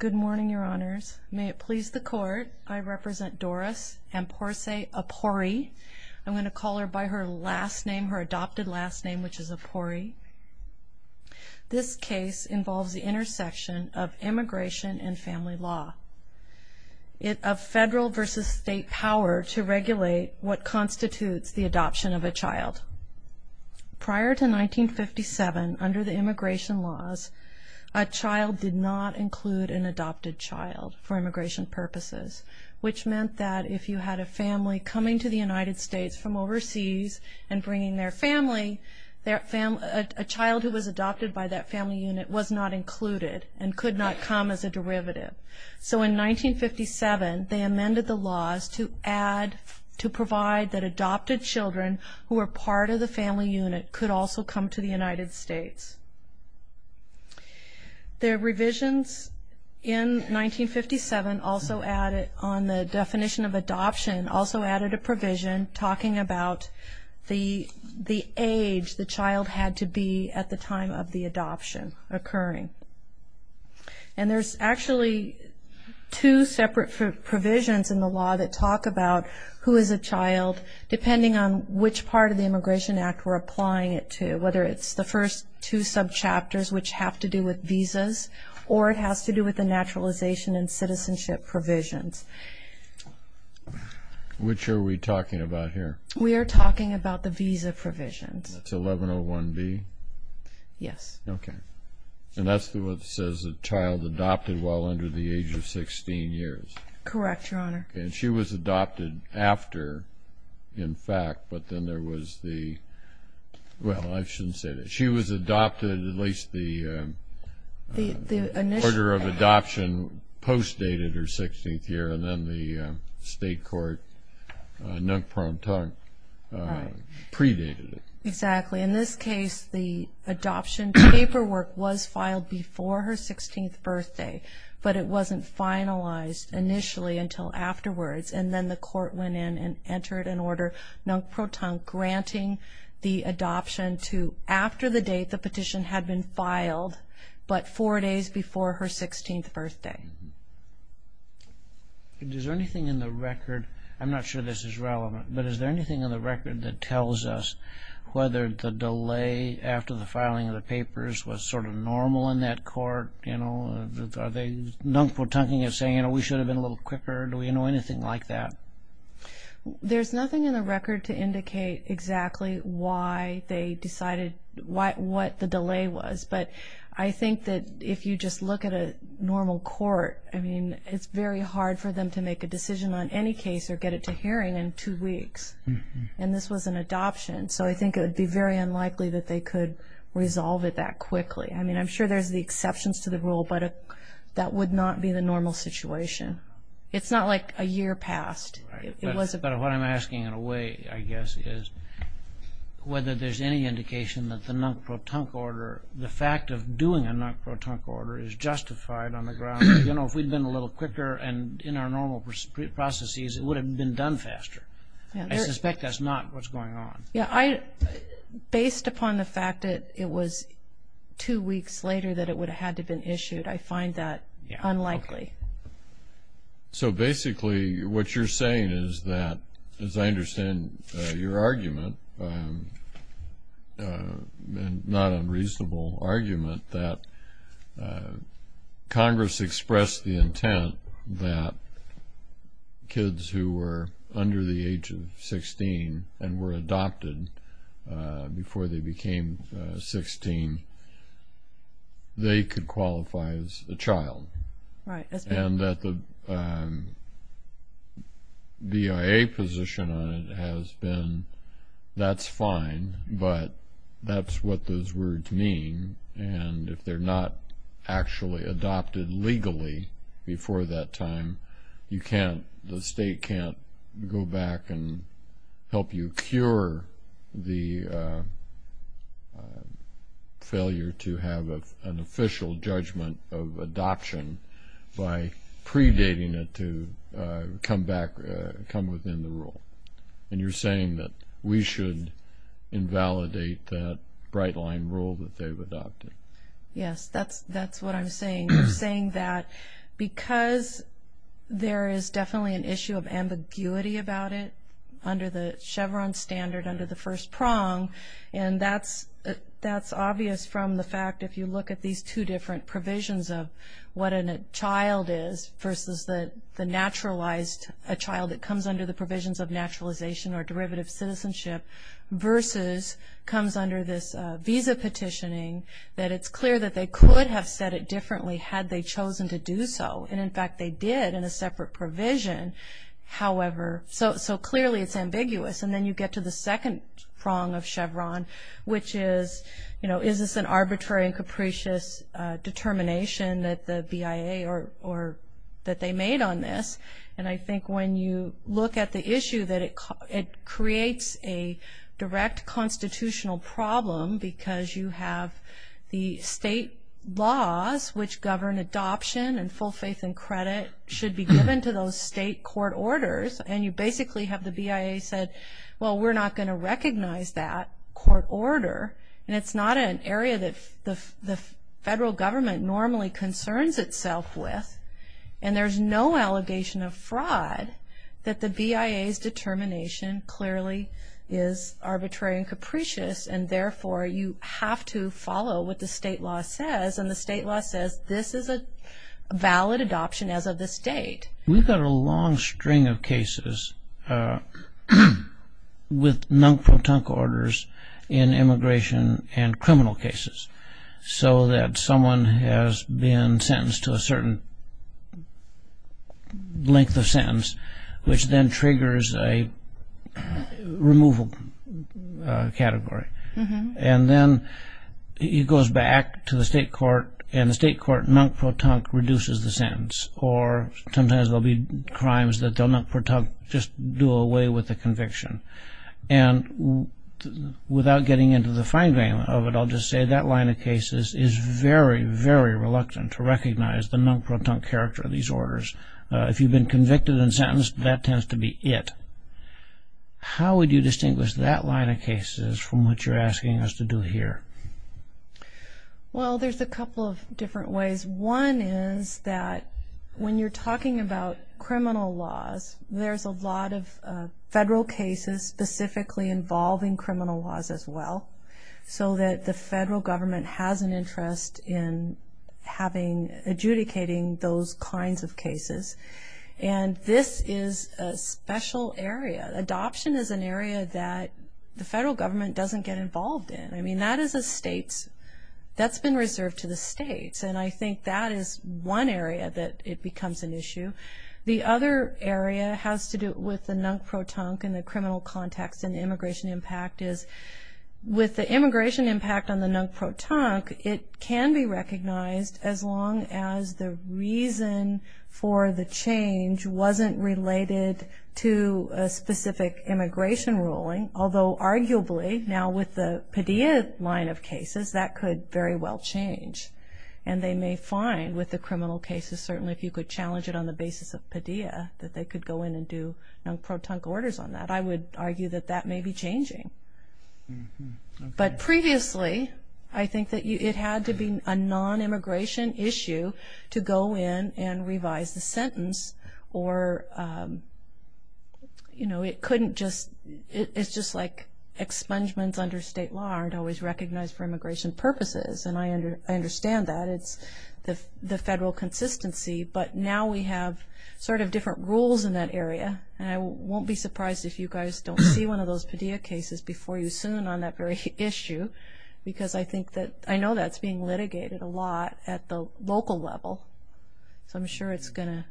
Good morning, your honors. May it please the court, I represent Doris Amponsah Apori. I'm going to call her by her last name, her adopted last name, which is Apori. This case involves the intersection of immigration and family law. It of federal versus state power to regulate what constitutes the adoption of a child. Prior to 1957, under the immigration laws, a child did not include an adopted child for immigration purposes, which meant that if you had a family coming to the United States from overseas and bringing their family, a child who was adopted by that family unit was not included and could not come as a derivative. So in 1957, they amended the laws to add, to provide that adopted children who were part of the family unit could also come to the United States. The revisions in 1957 also added, on the definition of adoption, also added a provision talking about the age the child had to be at the time of the adoption occurring. And there's actually two separate provisions in the law that talk about who is a child, depending on which part of the Immigration Act we're applying it to, whether it's the first two subchapters, which have to do with visas, or it has to do with the naturalization and citizenship provisions. Which are we talking about here? We are talking about the visa provisions. That's 1101B? Yes. Okay. And that's what says a child adopted while under the age of 16 years? Correct, Your Honor. And she was adopted after, in fact, but then there was the – well, I shouldn't say that. She was adopted, at least the order of adoption post-dated her 16th year, and then the state court, nunc promptu, predated it. Exactly. In this case, the adoption paperwork was filed before her 16th birthday, but it wasn't finalized initially until afterwards. And then the court went in and entered an order, nunc promptu, granting the adoption to – after the date the petition had been filed, but four days before her 16th birthday. Is there anything in the record – I'm not sure this is relevant, but is there anything in the record that tells us whether the delay after the filing of the papers was sort of normal in that court, you know? Are they nunc protunquing it, saying, you know, we should have been a little quicker? Do we know anything like that? There's nothing in the record to indicate exactly why they decided what the delay was, but I think that if you just look at a normal court, I mean, it's very hard for them to make a decision on any case or get it to hearing in two weeks, and this was an adoption. So I think it would be very unlikely that they could resolve it that quickly. I mean, I'm sure there's the exceptions to the rule, but that would not be the normal situation. It's not like a year passed. Right, but what I'm asking in a way, I guess, is whether there's any indication that the nunc protunqu order, the fact of doing a nunc protunqu order is justified on the grounds that, you know, if we'd been a little quicker and in our normal processes, it would have been done faster. I suspect that's not what's going on. Yeah, based upon the fact that it was two weeks later that it would have had to have been issued, I find that unlikely. So basically what you're saying is that, as I understand your argument, and not unreasonable argument, that Congress expressed the intent that kids who were under the age of 16 and were adopted before they became 16, they could qualify as a child. Right. And that the BIA position on it has been, that's fine, but that's what those words mean. And if they're not actually adopted legally before that time, the state can't go back and help you cure the failure to have an official judgment of adoption. by predating it to come back, come within the rule. And you're saying that we should invalidate that bright line rule that they've adopted. Yes, that's what I'm saying. I'm saying that because there is definitely an issue of ambiguity about it under the Chevron standard, under the first prong, and that's obvious from the fact, if you look at these two different provisions of what a child is versus the naturalized, a child that comes under the provisions of naturalization or derivative citizenship, versus comes under this visa petitioning, that it's clear that they could have said it differently had they chosen to do so. And, in fact, they did in a separate provision. However, so clearly it's ambiguous. And then you get to the second prong of Chevron, which is, you know, is this an arbitrary and capricious determination that the BIA or that they made on this? And I think when you look at the issue that it creates a direct constitutional problem because you have the state laws which govern adoption and full faith and credit should be given to those state court orders, and you basically have the BIA said, well, we're not going to recognize that court order. And it's not an area that the federal government normally concerns itself with. And there's no allegation of fraud that the BIA's determination clearly is arbitrary and capricious. And, therefore, you have to follow what the state law says. And the state law says this is a valid adoption as of this date. We've got a long string of cases with non-protonc orders in immigration and criminal cases so that someone has been sentenced to a certain length of sentence, which then triggers a removal category. And then it goes back to the state court, and the state court non-protonc reduces the sentence or sometimes there'll be crimes that they'll non-protonc just do away with the conviction. And without getting into the fine grain of it, I'll just say that line of cases is very, very reluctant to recognize the non-protonc character of these orders. If you've been convicted and sentenced, that tends to be it. How would you distinguish that line of cases from what you're asking us to do here? Well, there's a couple of different ways. One is that when you're talking about criminal laws, there's a lot of federal cases specifically involving criminal laws as well, so that the federal government has an interest in adjudicating those kinds of cases. And this is a special area. Adoption is an area that the federal government doesn't get involved in. I mean, that's been reserved to the states. And I think that is one area that it becomes an issue. The other area has to do with the non-protonc in the criminal context and immigration impact is with the immigration impact on the non-protonc, it can be recognized as long as the reason for the change wasn't related to a specific immigration ruling, although arguably now with the Padilla line of cases, that could very well change. And they may find with the criminal cases, certainly if you could challenge it on the basis of Padilla, that they could go in and do non-protonc orders on that. I would argue that that may be changing. But previously, I think that it had to be a non-immigration issue to go in and revise the sentence or, you know, it's just like expungements under state law aren't always recognized for immigration purposes. And I understand that. It's the federal consistency. But now we have sort of different rules in that area. And I won't be surprised if you guys don't see one of those Padilla cases before you soon on that very issue because I know that's being litigated a lot at the local level. So I'm sure it's going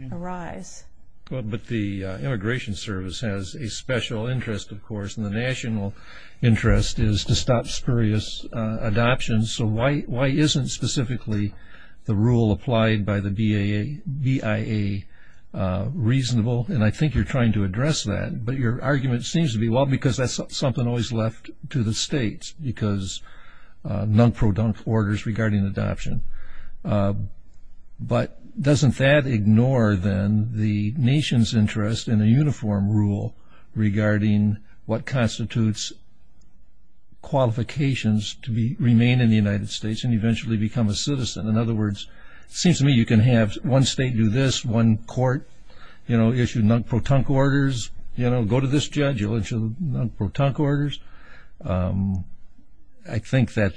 to arise. But the Immigration Service has a special interest, of course, and the national interest is to stop spurious adoptions. So why isn't specifically the rule applied by the BIA reasonable? And I think you're trying to address that. But your argument seems to be, well, because that's something always left to the states because non-protunct orders regarding adoption. But doesn't that ignore, then, the nation's interest in a uniform rule regarding what constitutes qualifications to remain in the United States and eventually become a citizen? In other words, it seems to me you can have one state do this, one court issue non-protunct orders, you know, go to this judge, you'll issue non-protunct orders. I think that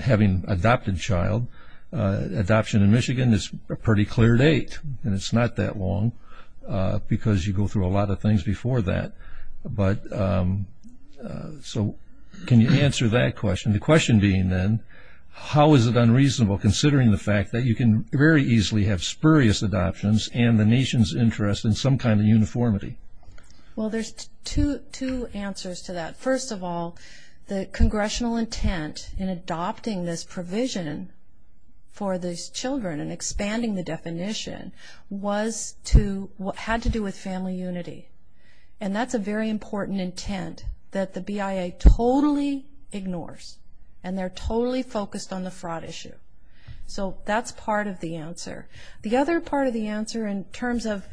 having adopted child, adoption in Michigan is a pretty clear date, and it's not that long because you go through a lot of things before that. So can you answer that question? The question being, then, how is it unreasonable, considering the fact that you can very easily have spurious adoptions and the nation's interest in some kind of uniformity? Well, there's two answers to that. First of all, the congressional intent in adopting this provision for these children and expanding the definition had to do with family unity. And that's a very important intent that the BIA totally ignores, and they're totally focused on the fraud issue. So that's part of the answer. The other part of the answer in terms of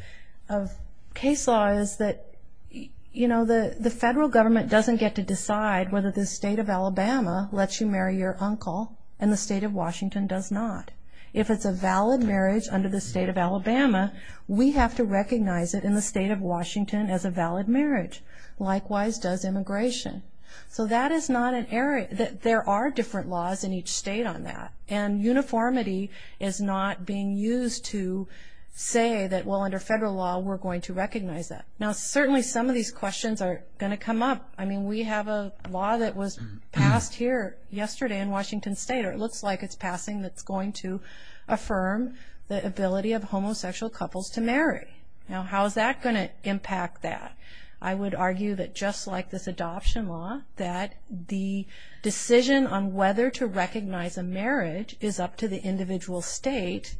case law is that, you know, the federal government doesn't get to decide whether the state of Alabama lets you marry your uncle and the state of Washington does not. If it's a valid marriage under the state of Alabama, we have to recognize it in the state of Washington as a valid marriage. Likewise does immigration. So that is not an area that there are different laws in each state on that, and uniformity is not being used to say that, well, under federal law we're going to recognize that. Now, certainly some of these questions are going to come up. I mean, we have a law that was passed here yesterday in Washington State, or it looks like it's passing that's going to affirm the ability of homosexual couples to marry. Now, how is that going to impact that? I would argue that just like this adoption law, that the decision on whether to recognize a marriage is up to the individual state,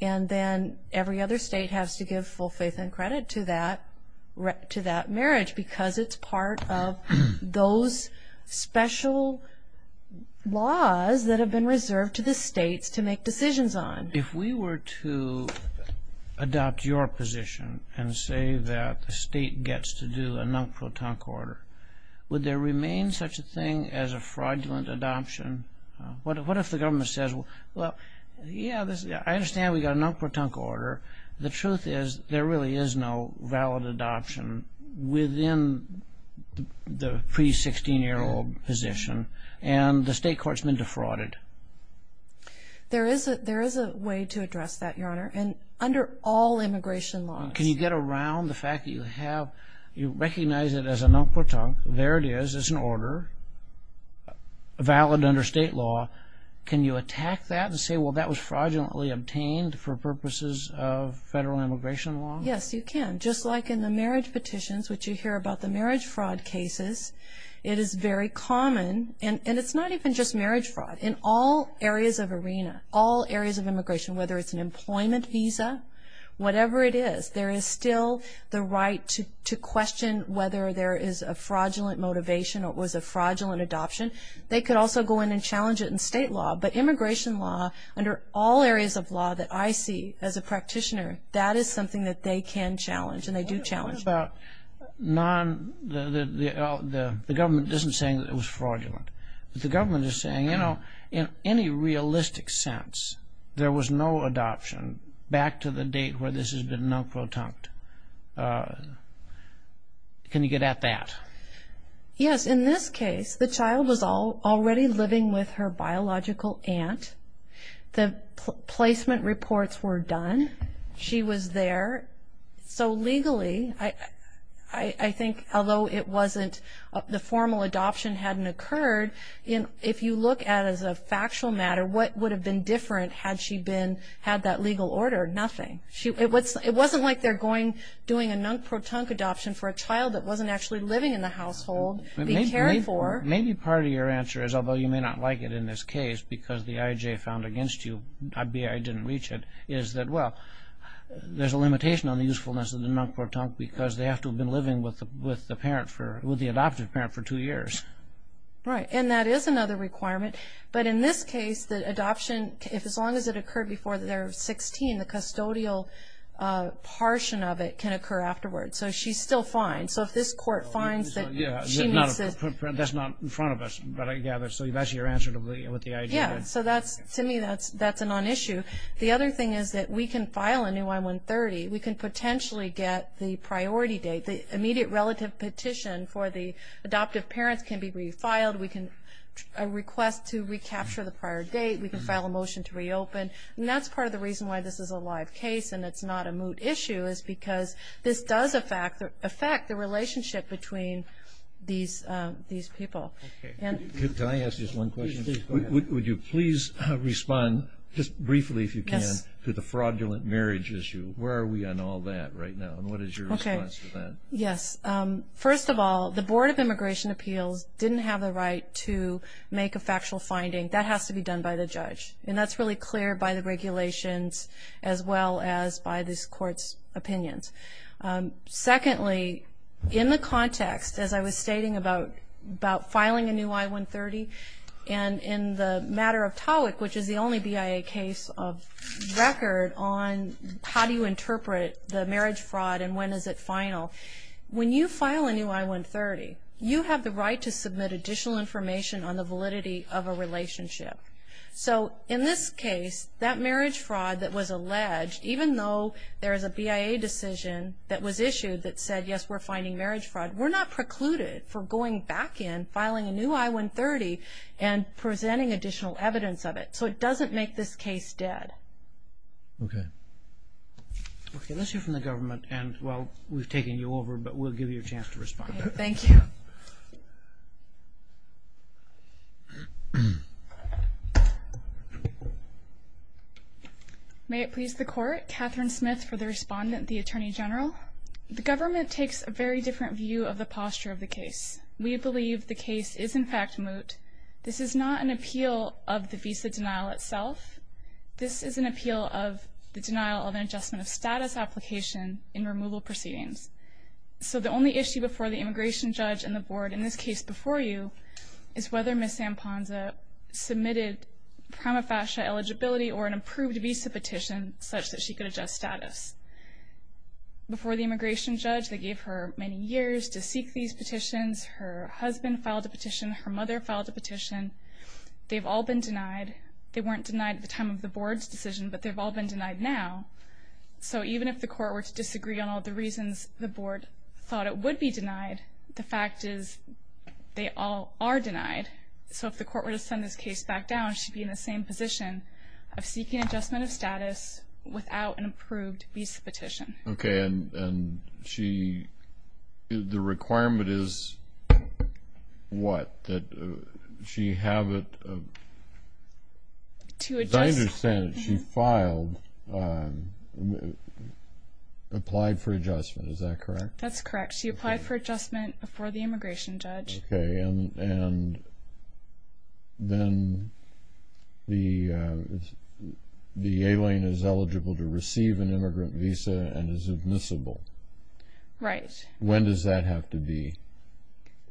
and then every other state has to give full faith and credit to that marriage because it's part of those special laws that have been reserved to the states to make decisions on. If we were to adopt your position and say that the state gets to do a non-protonc order, would there remain such a thing as a fraudulent adoption? What if the government says, well, yeah, I understand we got a non-protonc order. The truth is there really is no valid adoption within the pre-16-year-old position, and the state court's been defrauded. There is a way to address that, Your Honor, and under all immigration laws. Can you get around the fact that you recognize it as a non-protonc? There it is. It's an order, valid under state law. Can you attack that and say, well, that was fraudulently obtained for purposes of federal immigration law? Yes, you can, just like in the marriage petitions, which you hear about the marriage fraud cases. It is very common, and it's not even just marriage fraud. In all areas of arena, all areas of immigration, whether it's an employment visa, whatever it is, there is still the right to question whether there is a fraudulent motivation or it was a fraudulent adoption. They could also go in and challenge it in state law. But immigration law, under all areas of law that I see as a practitioner, that is something that they can challenge, and they do challenge it. What about the government isn't saying that it was fraudulent, but the government is saying, you know, in any realistic sense, there was no adoption back to the date where this has been non-protonc? Can you get at that? Yes, in this case, the child was already living with her biological aunt. The placement reports were done. She was there. So legally, I think, although it wasn't, the formal adoption hadn't occurred, if you look at it as a factual matter, what would have been different had she had that legal order? Nothing. It wasn't like they're doing a non-protonc adoption for a child that wasn't actually living in the household to be cared for. Maybe part of your answer is, although you may not like it in this case because the IJ found against you, I.B.I. didn't reach it, is that, well, there's a limitation on the usefulness of the non-protonc because they have to have been living with the adoptive parent for two years. Right. And that is another requirement. But in this case, the adoption, as long as it occurred before they're 16, the custodial portion of it can occur afterwards. So she's still fine. So if this court finds that she needs this. That's not in front of us, but I gather. So that's your answer to what the IJ did. Yeah, so to me, that's a non-issue. The other thing is that we can file a new I-130. We can potentially get the priority date. The immediate relative petition for the adoptive parents can be refiled. We can request to recapture the prior date. We can file a motion to reopen. And that's part of the reason why this is a live case and it's not a moot issue is because this does affect the relationship between these people. Okay. Can I ask just one question? Please do. Go ahead. Would you please respond, just briefly if you can, to the fraudulent marriage issue? Where are we on all that right now? And what is your response to that? Okay. Yes. First of all, the Board of Immigration Appeals didn't have the right to make a factual finding. That has to be done by the judge. And that's really clear by the regulations as well as by this court's opinions. Secondly, in the context, as I was stating about filing a new I-130 and in the matter of TOWIC, which is the only BIA case of record on how do you interpret the marriage fraud and when is it final, when you file a new I-130, you have the right to submit additional information on the validity of a relationship. So in this case, that marriage fraud that was alleged, even though there is a BIA decision that was issued that said, yes, we're finding marriage fraud, we're not precluded from going back in, filing a new I-130, and presenting additional evidence of it. So it doesn't make this case dead. Okay. Let's hear from the government. And, well, we've taken you over, but we'll give you a chance to respond. Thank you. May it please the Court. Catherine Smith for the respondent, the Attorney General. Well, the government takes a very different view of the posture of the case. We believe the case is, in fact, moot. This is not an appeal of the visa denial itself. This is an appeal of the denial of an adjustment of status application in removal proceedings. So the only issue before the immigration judge and the Board, in this case before you, is whether Ms. Samponza submitted prima facie eligibility or an approved visa petition such that she could adjust status. Before the immigration judge, they gave her many years to seek these petitions. Her husband filed a petition. Her mother filed a petition. They've all been denied. They weren't denied at the time of the Board's decision, but they've all been denied now. So even if the Court were to disagree on all the reasons the Board thought it would be denied, the fact is they all are denied. So if the Court were to send this case back down, she'd be in the same position of seeking adjustment of status without an approved visa petition. Okay, and the requirement is what, that she have it? To adjust. As I understand it, she filed, applied for adjustment. Is that correct? That's correct. She applied for adjustment before the immigration judge. Okay, and then the alien is eligible to receive an immigrant visa and is admissible. Right. When does that have to be?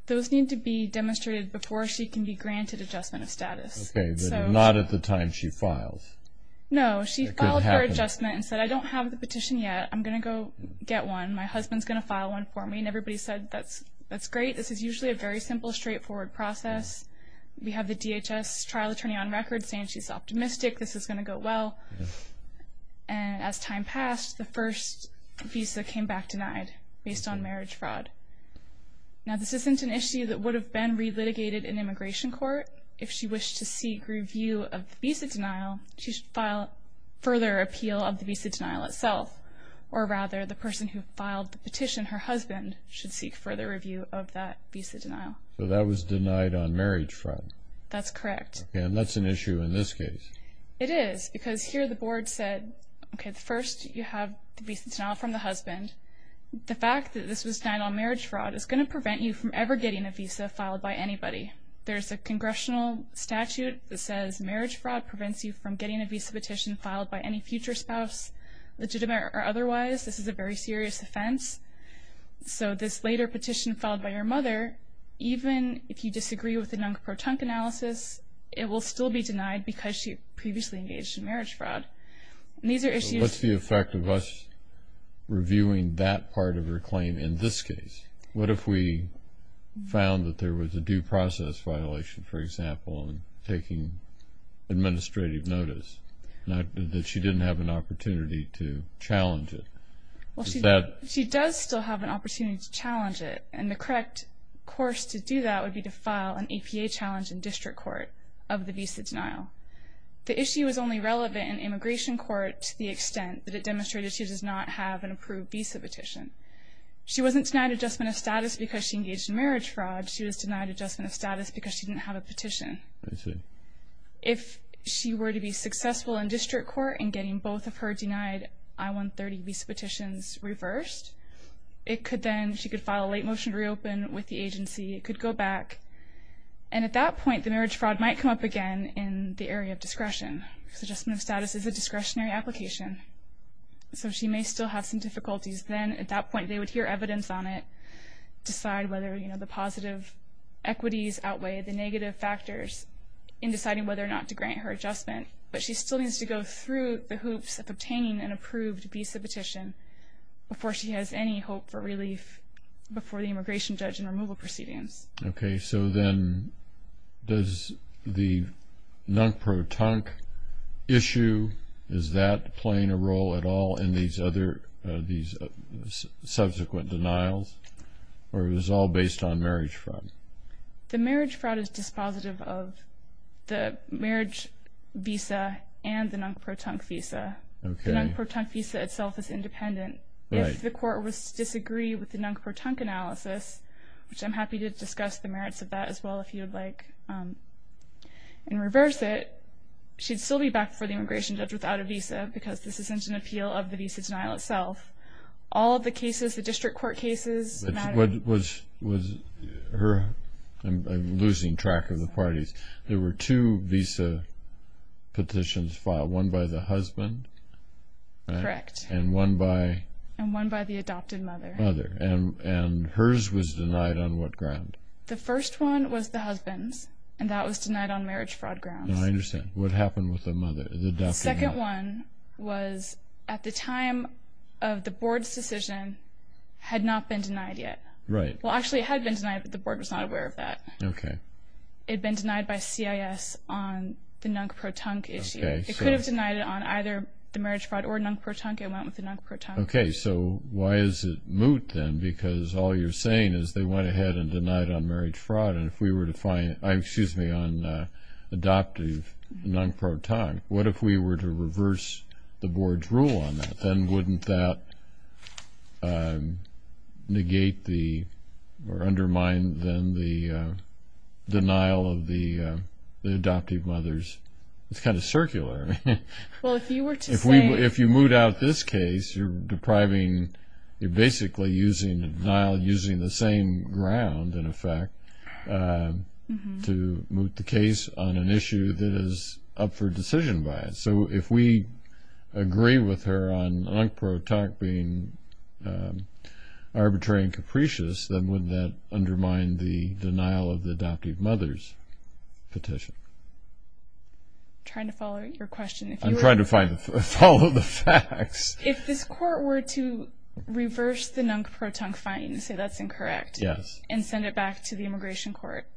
Those need to be demonstrated before she can be granted adjustment of status. Okay, but not at the time she files. No, she filed for adjustment and said, I don't have the petition yet. I'm going to go get one. My husband's going to file one for me. And everybody said, that's great. This is usually a very simple, straightforward process. We have the DHS trial attorney on record saying she's optimistic this is going to go well. And as time passed, the first visa came back denied based on marriage fraud. Now, this isn't an issue that would have been relitigated in immigration court. If she wished to seek review of the visa denial, she should file further appeal of the visa denial itself. Or rather, the person who filed the petition, her husband, should seek further review of that visa denial. So that was denied on marriage fraud. That's correct. Okay, and that's an issue in this case. It is, because here the board said, okay, first you have the visa denial from the husband. The fact that this was denied on marriage fraud is going to prevent you from ever getting a visa filed by anybody. There's a congressional statute that says, marriage fraud prevents you from getting a visa petition filed by any future spouse, legitimate or otherwise. This is a very serious offense. So this later petition filed by her mother, even if you disagree with the NUNC-PROTUNC analysis, it will still be denied because she previously engaged in marriage fraud. And these are issues. What's the effect of us reviewing that part of her claim in this case? What if we found that there was a due process violation, for example, in taking administrative notice, and that she didn't have an opportunity to challenge it? Well, she does still have an opportunity to challenge it, and the correct course to do that would be to file an APA challenge in district court of the visa denial. The issue is only relevant in immigration court to the extent that it demonstrates she does not have an approved visa petition. She wasn't denied adjustment of status because she engaged in marriage fraud. She was denied adjustment of status because she didn't have a petition. I see. If she were to be successful in district court in getting both of her denied I-130 visa petitions reversed, it could then, she could file a late motion to reopen with the agency. It could go back. And at that point, the marriage fraud might come up again in the area of discretion, because adjustment of status is a discretionary application. So she may still have some difficulties then. At that point, they would hear evidence on it, decide whether, you know, the positive equities outweigh the negative factors in deciding whether or not to grant her adjustment. But she still needs to go through the hoops of obtaining an approved visa petition before she has any hope for relief before the immigration judge and removal proceedings. Okay. So then does the NUNCPRO-TUNC issue, is that playing a role at all in these other, these subsequent denials, or is it all based on marriage fraud? The marriage fraud is dispositive of the marriage visa and the NUNCPRO-TUNC visa. Okay. The NUNCPRO-TUNC visa itself is independent. Right. If the court was to disagree with the NUNCPRO-TUNC analysis, which I'm happy to discuss the merits of that as well if you would like, and reverse it, she'd still be back before the immigration judge without a visa because this is such an appeal of the visa denial itself. All of the cases, the district court cases matter. Was her, I'm losing track of the parties, there were two visa petitions filed, one by the husband? Correct. And one by? And one by the adopted mother. Mother. And hers was denied on what ground? The first one was the husband's, and that was denied on marriage fraud grounds. I understand. What happened with the adopted mother? The second one was at the time of the board's decision had not been denied yet. Right. Well, actually it had been denied, but the board was not aware of that. Okay. It had been denied by CIS on the NUNCPRO-TUNC issue. It could have denied it on either the marriage fraud or NUNCPRO-TUNC. It went with the NUNCPRO-TUNC. Okay, so why is it moot then? Because all you're saying is they went ahead and denied on marriage fraud, and if we were to find, excuse me, on adoptive NUNCPRO-TUNC, what if we were to reverse the board's rule on that? Then wouldn't that negate or undermine then the denial of the adoptive mothers? It's kind of circular. Well, if you were to say... If you moot out this case, you're depriving, you're basically using denial using the same ground, in effect, to moot the case on an issue that is up for decision bias. So if we agree with her on NUNCPRO-TUNC being arbitrary and capricious, then wouldn't that undermine the denial of the adoptive mothers petition? I'm trying to follow your question. I'm trying to follow the facts. If this court were to reverse the NUNCPRO-TUNC finding and say that's incorrect and send it back to the immigration court,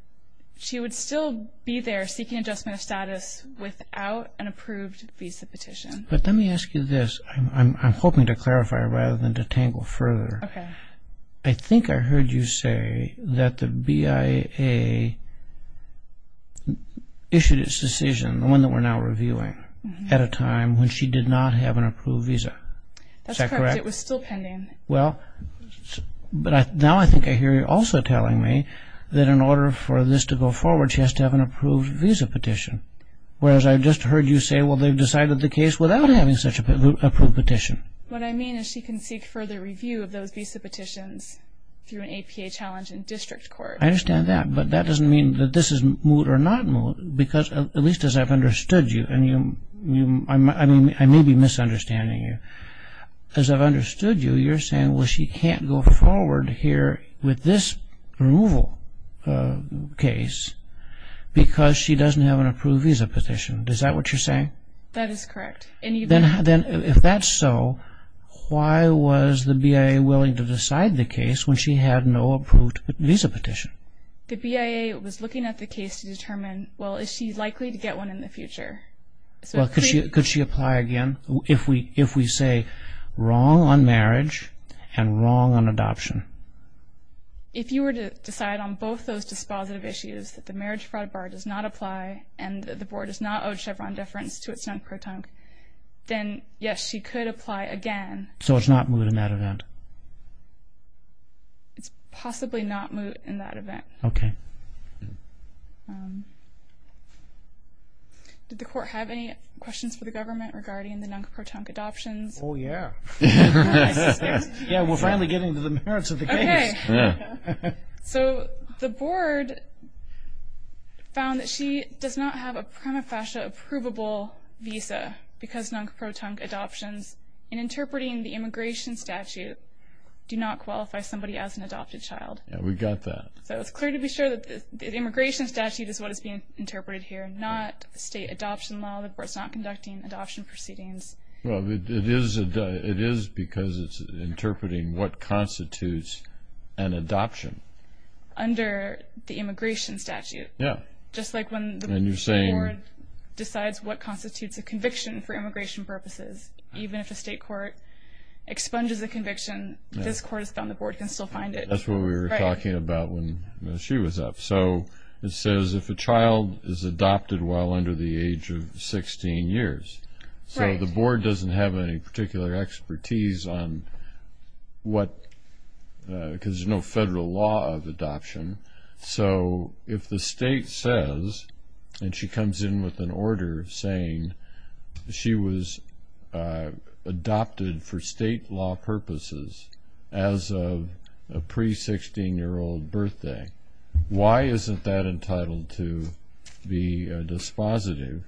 she would still be there seeking adjustment of status without an approved visa petition. But let me ask you this. I'm hoping to clarify rather than to tangle further. Okay. I think I heard you say that the BIA issued its decision, the one that we're now reviewing, at a time when she did not have an approved visa. Is that correct? That's correct. It was still pending. Well, but now I think I hear you also telling me that in order for this to go forward, she has to have an approved visa petition, whereas I just heard you say, well, they've decided the case without having such an approved petition. What I mean is she can seek further review of those visa petitions through an APA challenge in district court. I understand that, but that doesn't mean that this is moot or not moot, because at least as I've understood you, and I may be misunderstanding you. As I've understood you, you're saying, well, she can't go forward here with this removal case because she doesn't have an approved visa petition. Is that what you're saying? That is correct. If that's so, why was the BIA willing to decide the case when she had no approved visa petition? The BIA was looking at the case to determine, well, is she likely to get one in the future? Could she apply again if we say wrong on marriage and wrong on adoption? If you were to decide on both those dispositive issues, that the marriage fraud bar does not apply and the board does not owe Chevron deference to its non-proton, then, yes, she could apply again. So it's not moot in that event? It's possibly not moot in that event. Okay. Did the court have any questions for the government regarding the non-proton adoptions? Oh, yeah. Yeah, we're finally getting to the merits of the case. Okay. So the board found that she does not have a prima facie approvable visa because non-proton adoptions in interpreting the immigration statute do not qualify somebody as an adopted child. Yeah, we got that. So it's clear to be sure that the immigration statute is what is being interpreted here, not the state adoption law. The board's not conducting adoption proceedings. It is because it's interpreting what constitutes an adoption. Under the immigration statute. Yeah. Just like when the board decides what constitutes a conviction for immigration purposes. Even if a state court expunges a conviction, this court has found the board can still find it. That's what we were talking about when she was up. So it says if a child is adopted while under the age of 16 years. Right. So the board doesn't have any particular expertise on what – because there's no federal law of adoption. So if the state says, and she comes in with an order saying she was adopted for state law purposes as of a pre-16-year-old birthday, why isn't that entitled to be dispositive?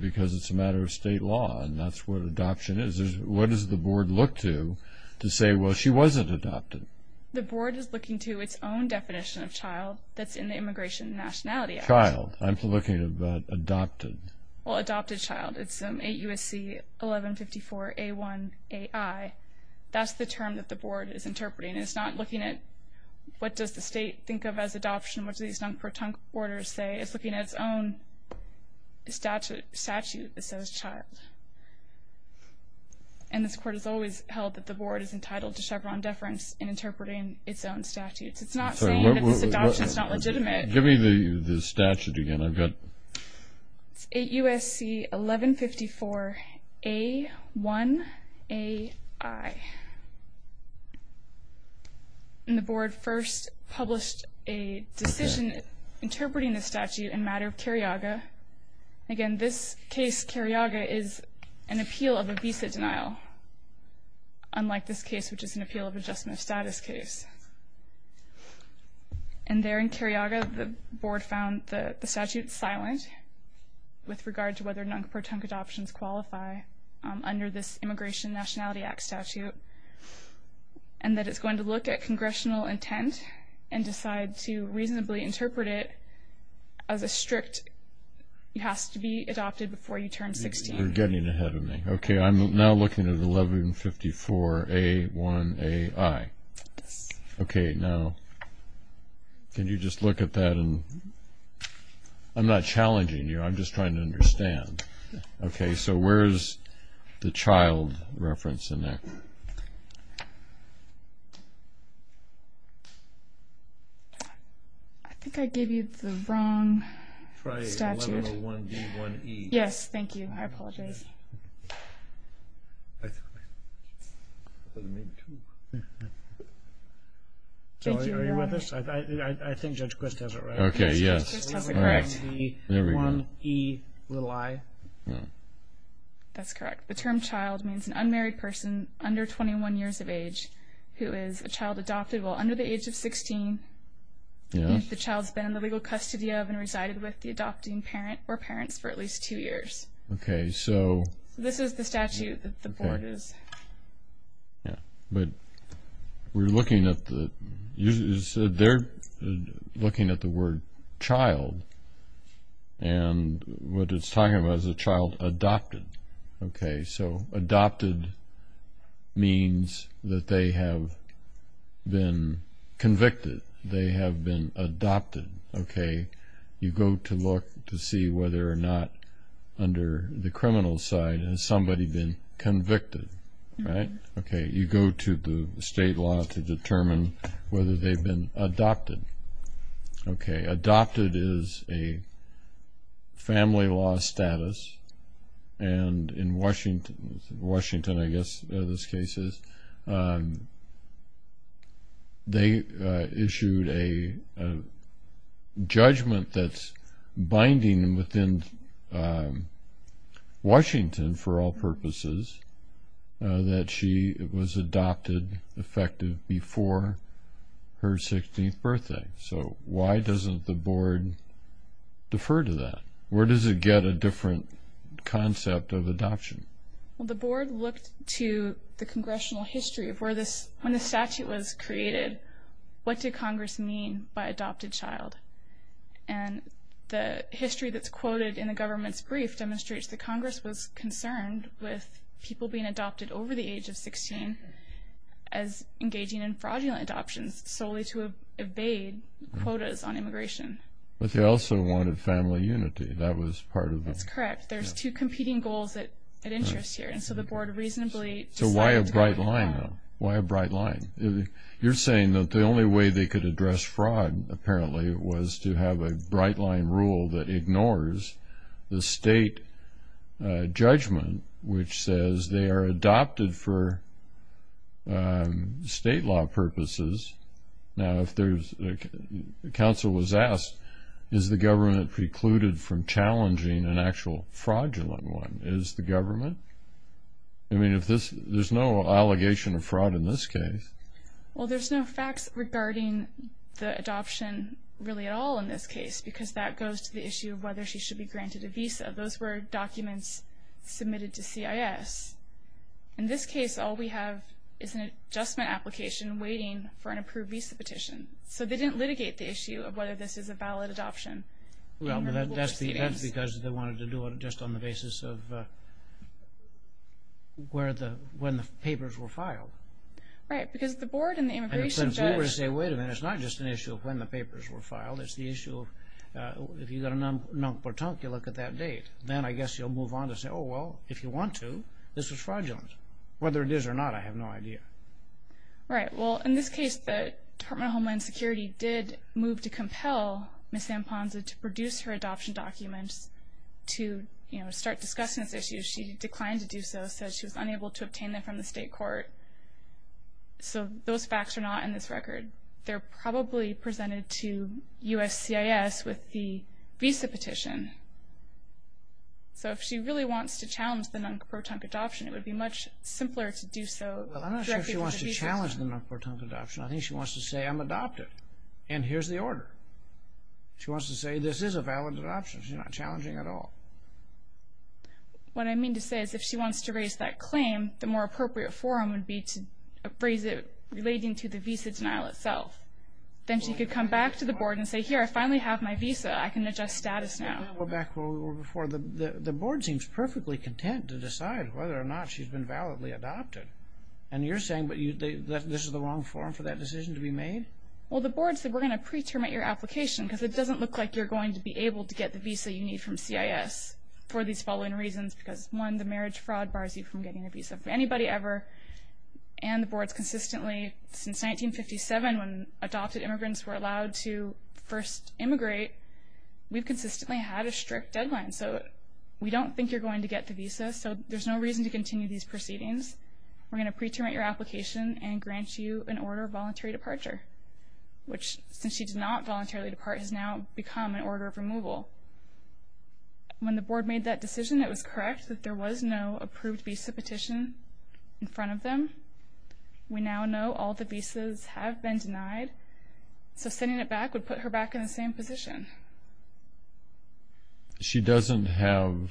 Because it's a matter of state law, and that's what adoption is. What does the board look to to say, well, she wasn't adopted? The board is looking to its own definition of child that's in the Immigration and Nationality Act. Child. I'm looking at adopted. Well, adopted child. It's 8 U.S.C. 1154 A1 AI. That's the term that the board is interpreting. It's not looking at what does the state think of as adoption, what does these non-croton orders say. It's looking at its own statute that says child. And this court has always held that the board is entitled to Chevron deference in interpreting its own statutes. It's not saying that this adoption is not legitimate. Give me the statute again. I've got it. It's 8 U.S.C. 1154 A1 AI. And the board first published a decision interpreting the statute in matter of Carriaga. Again, this case, Carriaga, is an appeal of a visa denial, unlike this case, which is an appeal of adjustment of status case. And there in Carriaga, the board found the statute silent with regard to whether non-croton adoptions qualify under this Immigration and Nationality Act statute and that it's going to look at congressional intent and decide to reasonably interpret it as a strict it has to be adopted before you turn 16. You're getting ahead of me. Okay, I'm now looking at 1154 A1 AI. Okay, now, can you just look at that? I'm not challenging you. I'm just trying to understand. Okay, so where's the child reference in there? I think I gave you the wrong statute. Try 1101 D1E. Yes, thank you. I apologize. Are you with us? I think Judge Quist has it right. Okay, yes. 1101 D1E i. That's correct. The term child means an unmarried person under 21 years of age who is a child adopted while under the age of 16. The child's been in the legal custody of and resided with the adopting parent or parents for at least two years. This is the statute that the board is. Yeah, but we're looking at the word child, and what it's talking about is a child adopted. Okay, so adopted means that they have been convicted. They have been adopted. Okay, you go to look to see whether or not under the criminal side has somebody been convicted, right? Okay, you go to the state law to determine whether they've been adopted. Okay, adopted is a family law status, and in Washington, I guess this case is, they issued a judgment that's binding within Washington, for all purposes, that she was adopted effective before her 16th birthday. So why doesn't the board defer to that? Where does it get a different concept of adoption? Well, the board looked to the congressional history of where this, when the statute was created, what did Congress mean by adopted child? And the history that's quoted in the government's brief demonstrates that Congress was concerned with people being adopted over the age of 16 as engaging in fraudulent adoptions solely to evade quotas on immigration. But they also wanted family unity. That was part of it. That's correct. There's two competing goals at interest here. And so the board reasonably decided to go ahead. So why a bright line, though? Why a bright line? You're saying that the only way they could address fraud, apparently, was to have a bright line rule that ignores the state judgment, which says they are adopted for state law purposes. Now, if there's, the counsel was asked, is the government precluded from challenging an actual fraudulent one? Is the government? I mean, there's no allegation of fraud in this case. Well, there's no facts regarding the adoption really at all in this case because that goes to the issue of whether she should be granted a visa. Those were documents submitted to CIS. In this case, all we have is an adjustment application waiting for an approved visa petition. So they didn't litigate the issue of whether this is a valid adoption. Well, that's because they wanted to do it just on the basis of when the papers were filed. Right, because the board and the immigration judge. And since we were to say, wait a minute, it's not just an issue of when the papers were filed. It's the issue of if you've got a nunk-per-tunk, you look at that date. Then I guess you'll move on to say, oh, well, if you want to, this was fraudulent. Whether it is or not, I have no idea. Right. Well, in this case, the Department of Homeland Security did move to compel Ms. Amponza to produce her adoption documents to start discussing this issue. She declined to do so, said she was unable to obtain them from the state court. So those facts are not in this record. They're probably presented to USCIS with the visa petition. So if she really wants to challenge the nunk-per-tunk adoption, it would be much simpler to do so. Well, I'm not sure if she wants to challenge the nunk-per-tunk adoption. I think she wants to say, I'm adopted, and here's the order. She wants to say, this is a valid adoption. She's not challenging at all. What I mean to say is if she wants to raise that claim, the more appropriate forum would be to raise it relating to the visa denial itself. Then she could come back to the board and say, here, I finally have my visa. I can adjust status now. I want to go back to where we were before. The board seems perfectly content to decide whether or not she's been validly adopted. And you're saying this is the wrong forum for that decision to be made? Well, the board said we're going to pre-terminate your application because it doesn't look like you're going to be able to get the visa you need from CIS for these following reasons because, one, the marriage fraud bars you from getting a visa from anybody ever. And the board's consistently, since 1957, when adopted immigrants were allowed to first immigrate, we've consistently had a strict deadline. So we don't think you're going to get the visa, so there's no reason to continue these proceedings. We're going to pre-terminate your application and grant you an order of voluntary departure, which, since she did not voluntarily depart, has now become an order of removal. When the board made that decision, it was correct that there was no approved visa petition in front of them. We now know all the visas have been denied. So sending it back would put her back in the same position. She doesn't have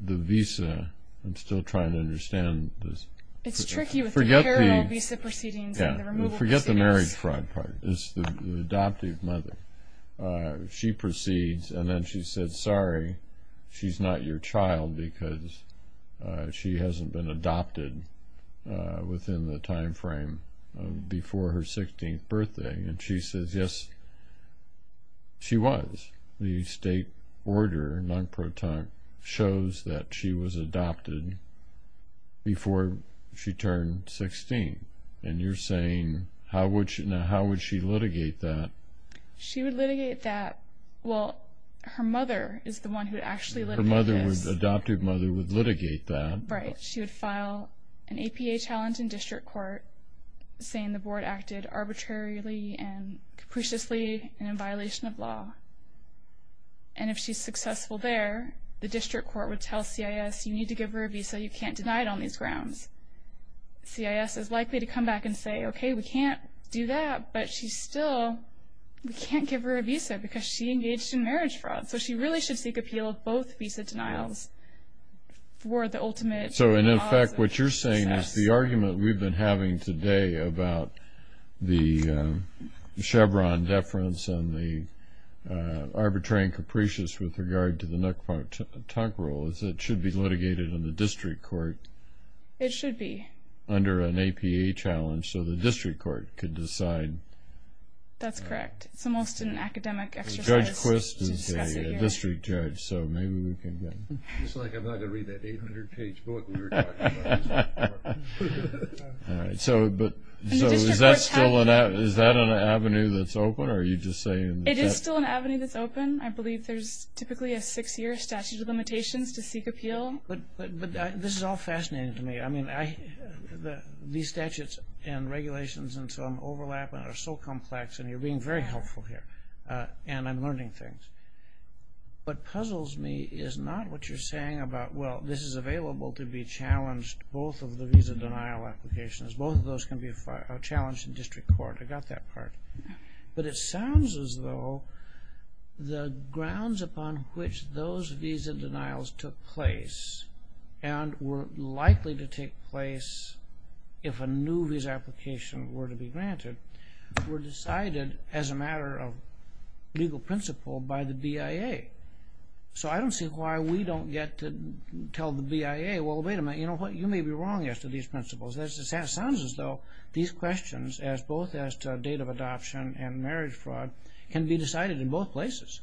the visa. I'm still trying to understand this. It's tricky with the parallel visa proceedings and the removal proceedings. Forget the marriage fraud part. It's the adoptive mother. She proceeds, and then she says, she's not your child because she hasn't been adopted within the time frame before her 16th birthday. And she says, yes, she was. The state order, non-proton, shows that she was adopted before she turned 16. And you're saying, how would she litigate that? She would litigate that. Well, her mother is the one who would actually litigate this. Her adoptive mother would litigate that. Right. She would file an APA challenge in district court saying the board acted arbitrarily and capriciously and in violation of law. And if she's successful there, the district court would tell CIS, you need to give her a visa. You can't deny it on these grounds. CIS is likely to come back and say, okay, we can't do that. But she's still, we can't give her a visa because she engaged in marriage fraud. So she really should seek appeal of both visa denials for the ultimate cause of success. So, in effect, what you're saying is the argument we've been having today about the Chevron deference and the arbitrary and capricious with regard to the Nook Park Tuck rule is that it should be litigated in the district court. It should be. Under an APA challenge so the district court could decide. That's correct. It's almost an academic exercise to discuss it here. Judge Quist is a district judge, so maybe we can get him. It's like I'm not going to read that 800-page book we were talking about. All right. So is that still an avenue that's open, or are you just saying? It is still an avenue that's open. I believe there's typically a six-year statute of limitations to seek appeal. But this is all fascinating to me. These statutes and regulations and so on overlap and are so complex, and you're being very helpful here, and I'm learning things. What puzzles me is not what you're saying about, well, this is available to be challenged, both of the visa denial applications. Both of those can be challenged in district court. I got that part. But it sounds as though the grounds upon which those visa denials took place and were likely to take place if a new visa application were to be granted were decided as a matter of legal principle by the BIA. So I don't see why we don't get to tell the BIA, well, wait a minute, you may be wrong as to these principles. It sounds as though these questions, both as to date of adoption and marriage fraud, can be decided in both places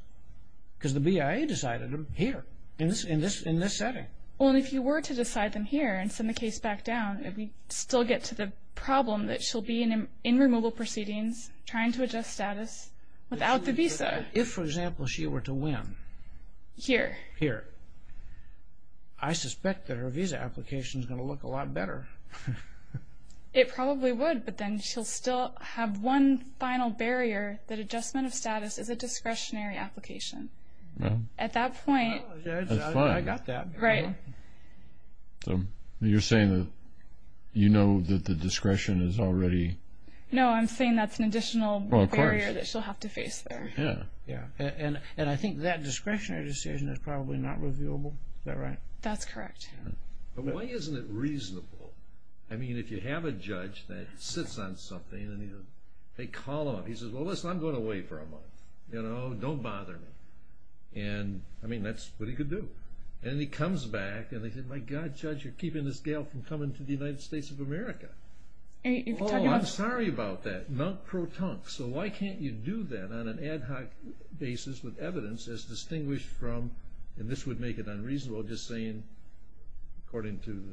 because the BIA decided them here in this setting. Well, and if you were to decide them here and send the case back down, we'd still get to the problem that she'll be in removal proceedings trying to adjust status without the visa. If, for example, she were to win. Here. Here. I suspect that her visa application is going to look a lot better. It probably would, but then she'll still have one final barrier, that adjustment of status is a discretionary application. At that point. That's fine. I got that. Right. So you're saying that you know that the discretion is already. No, I'm saying that's an additional barrier that she'll have to face there. Of course. Yeah. And I think that discretionary decision is probably not reviewable. Is that right? That's correct. But why isn't it reasonable? I mean, if you have a judge that sits on something and he goes, hey, call him. He says, well, listen, I'm going away for a month. You know, don't bother me. And, I mean, that's what he could do. And then he comes back, and they said, my God, Judge, you're keeping this gal from coming to the United States of America. Oh, I'm sorry about that. Non-pro-tunk. So why can't you do that on an ad hoc basis with evidence as distinguished from, and this would make it unreasonable just saying, according to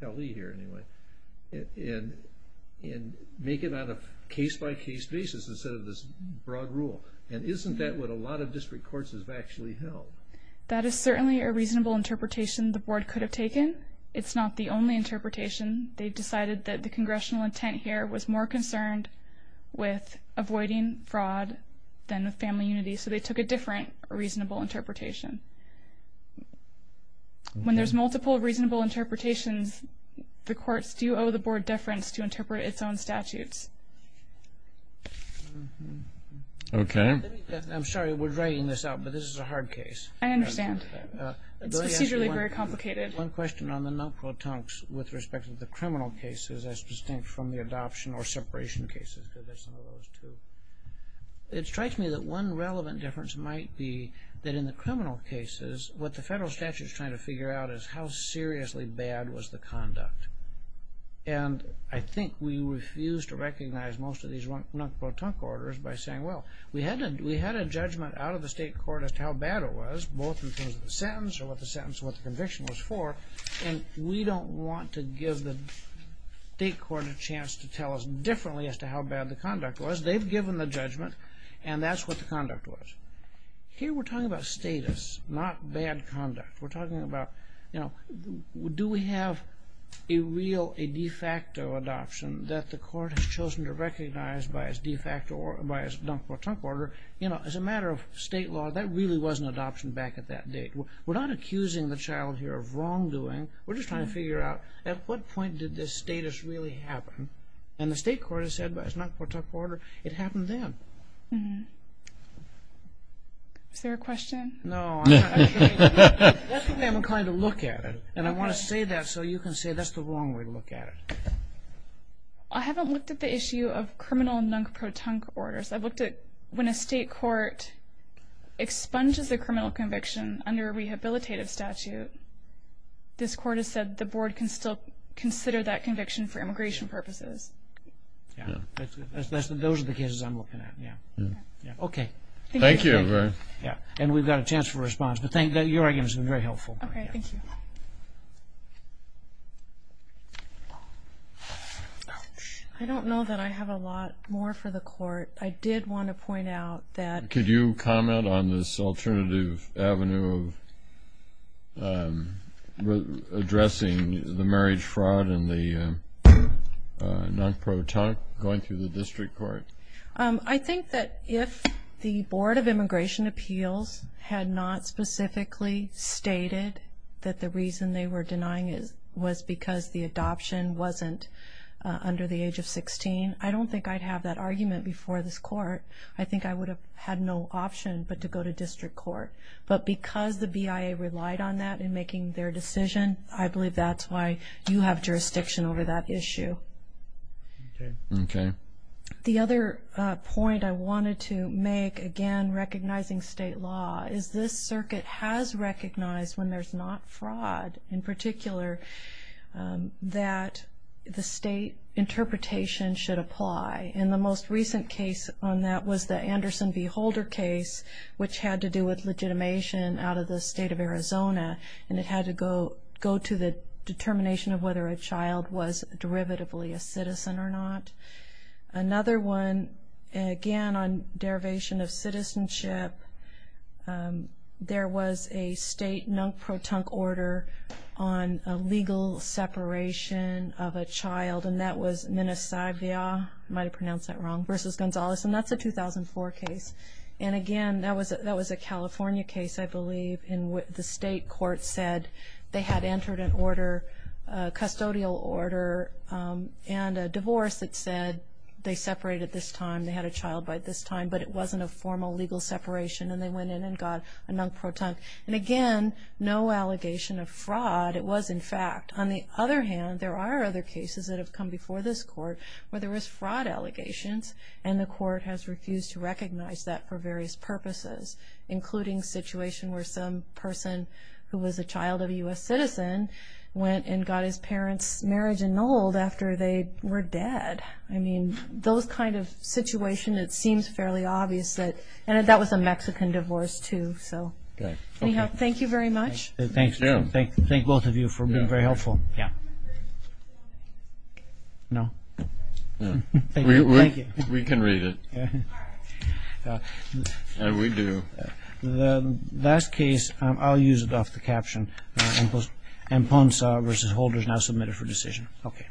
Kelly here anyway, and make it on a case-by-case basis instead of this broad rule? And isn't that what a lot of district courts have actually held? That is certainly a reasonable interpretation the board could have taken. It's not the only interpretation. They decided that the congressional intent here was more concerned with avoiding fraud than with family unity, so they took a different reasonable interpretation. When there's multiple reasonable interpretations, the courts do owe the board deference to interpret its own statutes. Okay. I'm sorry, we're writing this out, but this is a hard case. I understand. It's procedurally very complicated. One question on the non-pro-tunks with respect to the criminal cases as distinct from the adoption or separation cases, because that's one of those, too. It strikes me that one relevant difference might be that in the criminal cases, what the federal statute is trying to figure out is how seriously bad was the conduct, and I think we refuse to recognize most of these non-pro-tunk orders by saying, well, we had a judgment out of the state court as to how bad it was, both in terms of the sentence or what the conviction was for, and we don't want to give the state court a chance to tell us differently as to how bad the conduct was. They've given the judgment, and that's what the conduct was. Here we're talking about status, not bad conduct. We're talking about do we have a real, a de facto adoption that the court has chosen to recognize by its de facto or by its non-pro-tunk order. As a matter of state law, that really was an adoption back at that date. We're not accusing the child here of wrongdoing. We're just trying to figure out at what point did this status really happen, and the state court has said by its non-pro-tunk order it happened then. Is there a question? No. That's what I'm trying to look at, and I want to say that so you can say that's the wrong way to look at it. I haven't looked at the issue of criminal non-pro-tunk orders. I've looked at when a state court expunges a criminal conviction or that conviction for immigration purposes. Those are the cases I'm looking at. Okay. Thank you. We've got a chance for a response, but your arguments have been very helpful. Okay. Thank you. I don't know that I have a lot more for the court. I did want to point out that Could you comment on this alternative avenue of addressing the marriage fraud and the non-pro-tunk going through the district court? I think that if the Board of Immigration Appeals had not specifically stated that the reason they were denying it was because the adoption wasn't under the age of 16, I don't think I'd have that argument before this court. I think I would have had no option but to go to district court. But because the BIA relied on that in making their decision, I believe that's why you have jurisdiction over that issue. Okay. The other point I wanted to make, again, recognizing state law, is this circuit has recognized when there's not fraud in particular that the state interpretation should apply. And the most recent case on that was the Anderson v. Holder case, and it had to go to the determination of whether a child was derivatively a citizen or not. Another one, again, on derivation of citizenship, there was a state non-pro-tunk order on a legal separation of a child, and that was Minnesota v. Gonzales, and that's a 2004 case. And, again, that was a California case, I believe, and the state court said they had entered a custodial order and a divorce that said they separated this time, they had a child by this time, but it wasn't a formal legal separation, and they went in and got a non-pro-tunk. And, again, no allegation of fraud. It was, in fact. On the other hand, there are other cases that have come before this court where there was fraud allegations, and the court has refused to recognize that for various purposes, including a situation where some person who was a child of a U.S. citizen went and got his parents' marriage annulled after they were dead. I mean, those kind of situations, it seems fairly obvious. And that was a Mexican divorce, too. Anyhow, thank you very much. Thank you. Thank both of you for being very helpful. Yeah. No? Thank you. We can read it. We do. The last case, I'll use it off the caption. Emponza v. Holders now submitted for decision. Okay.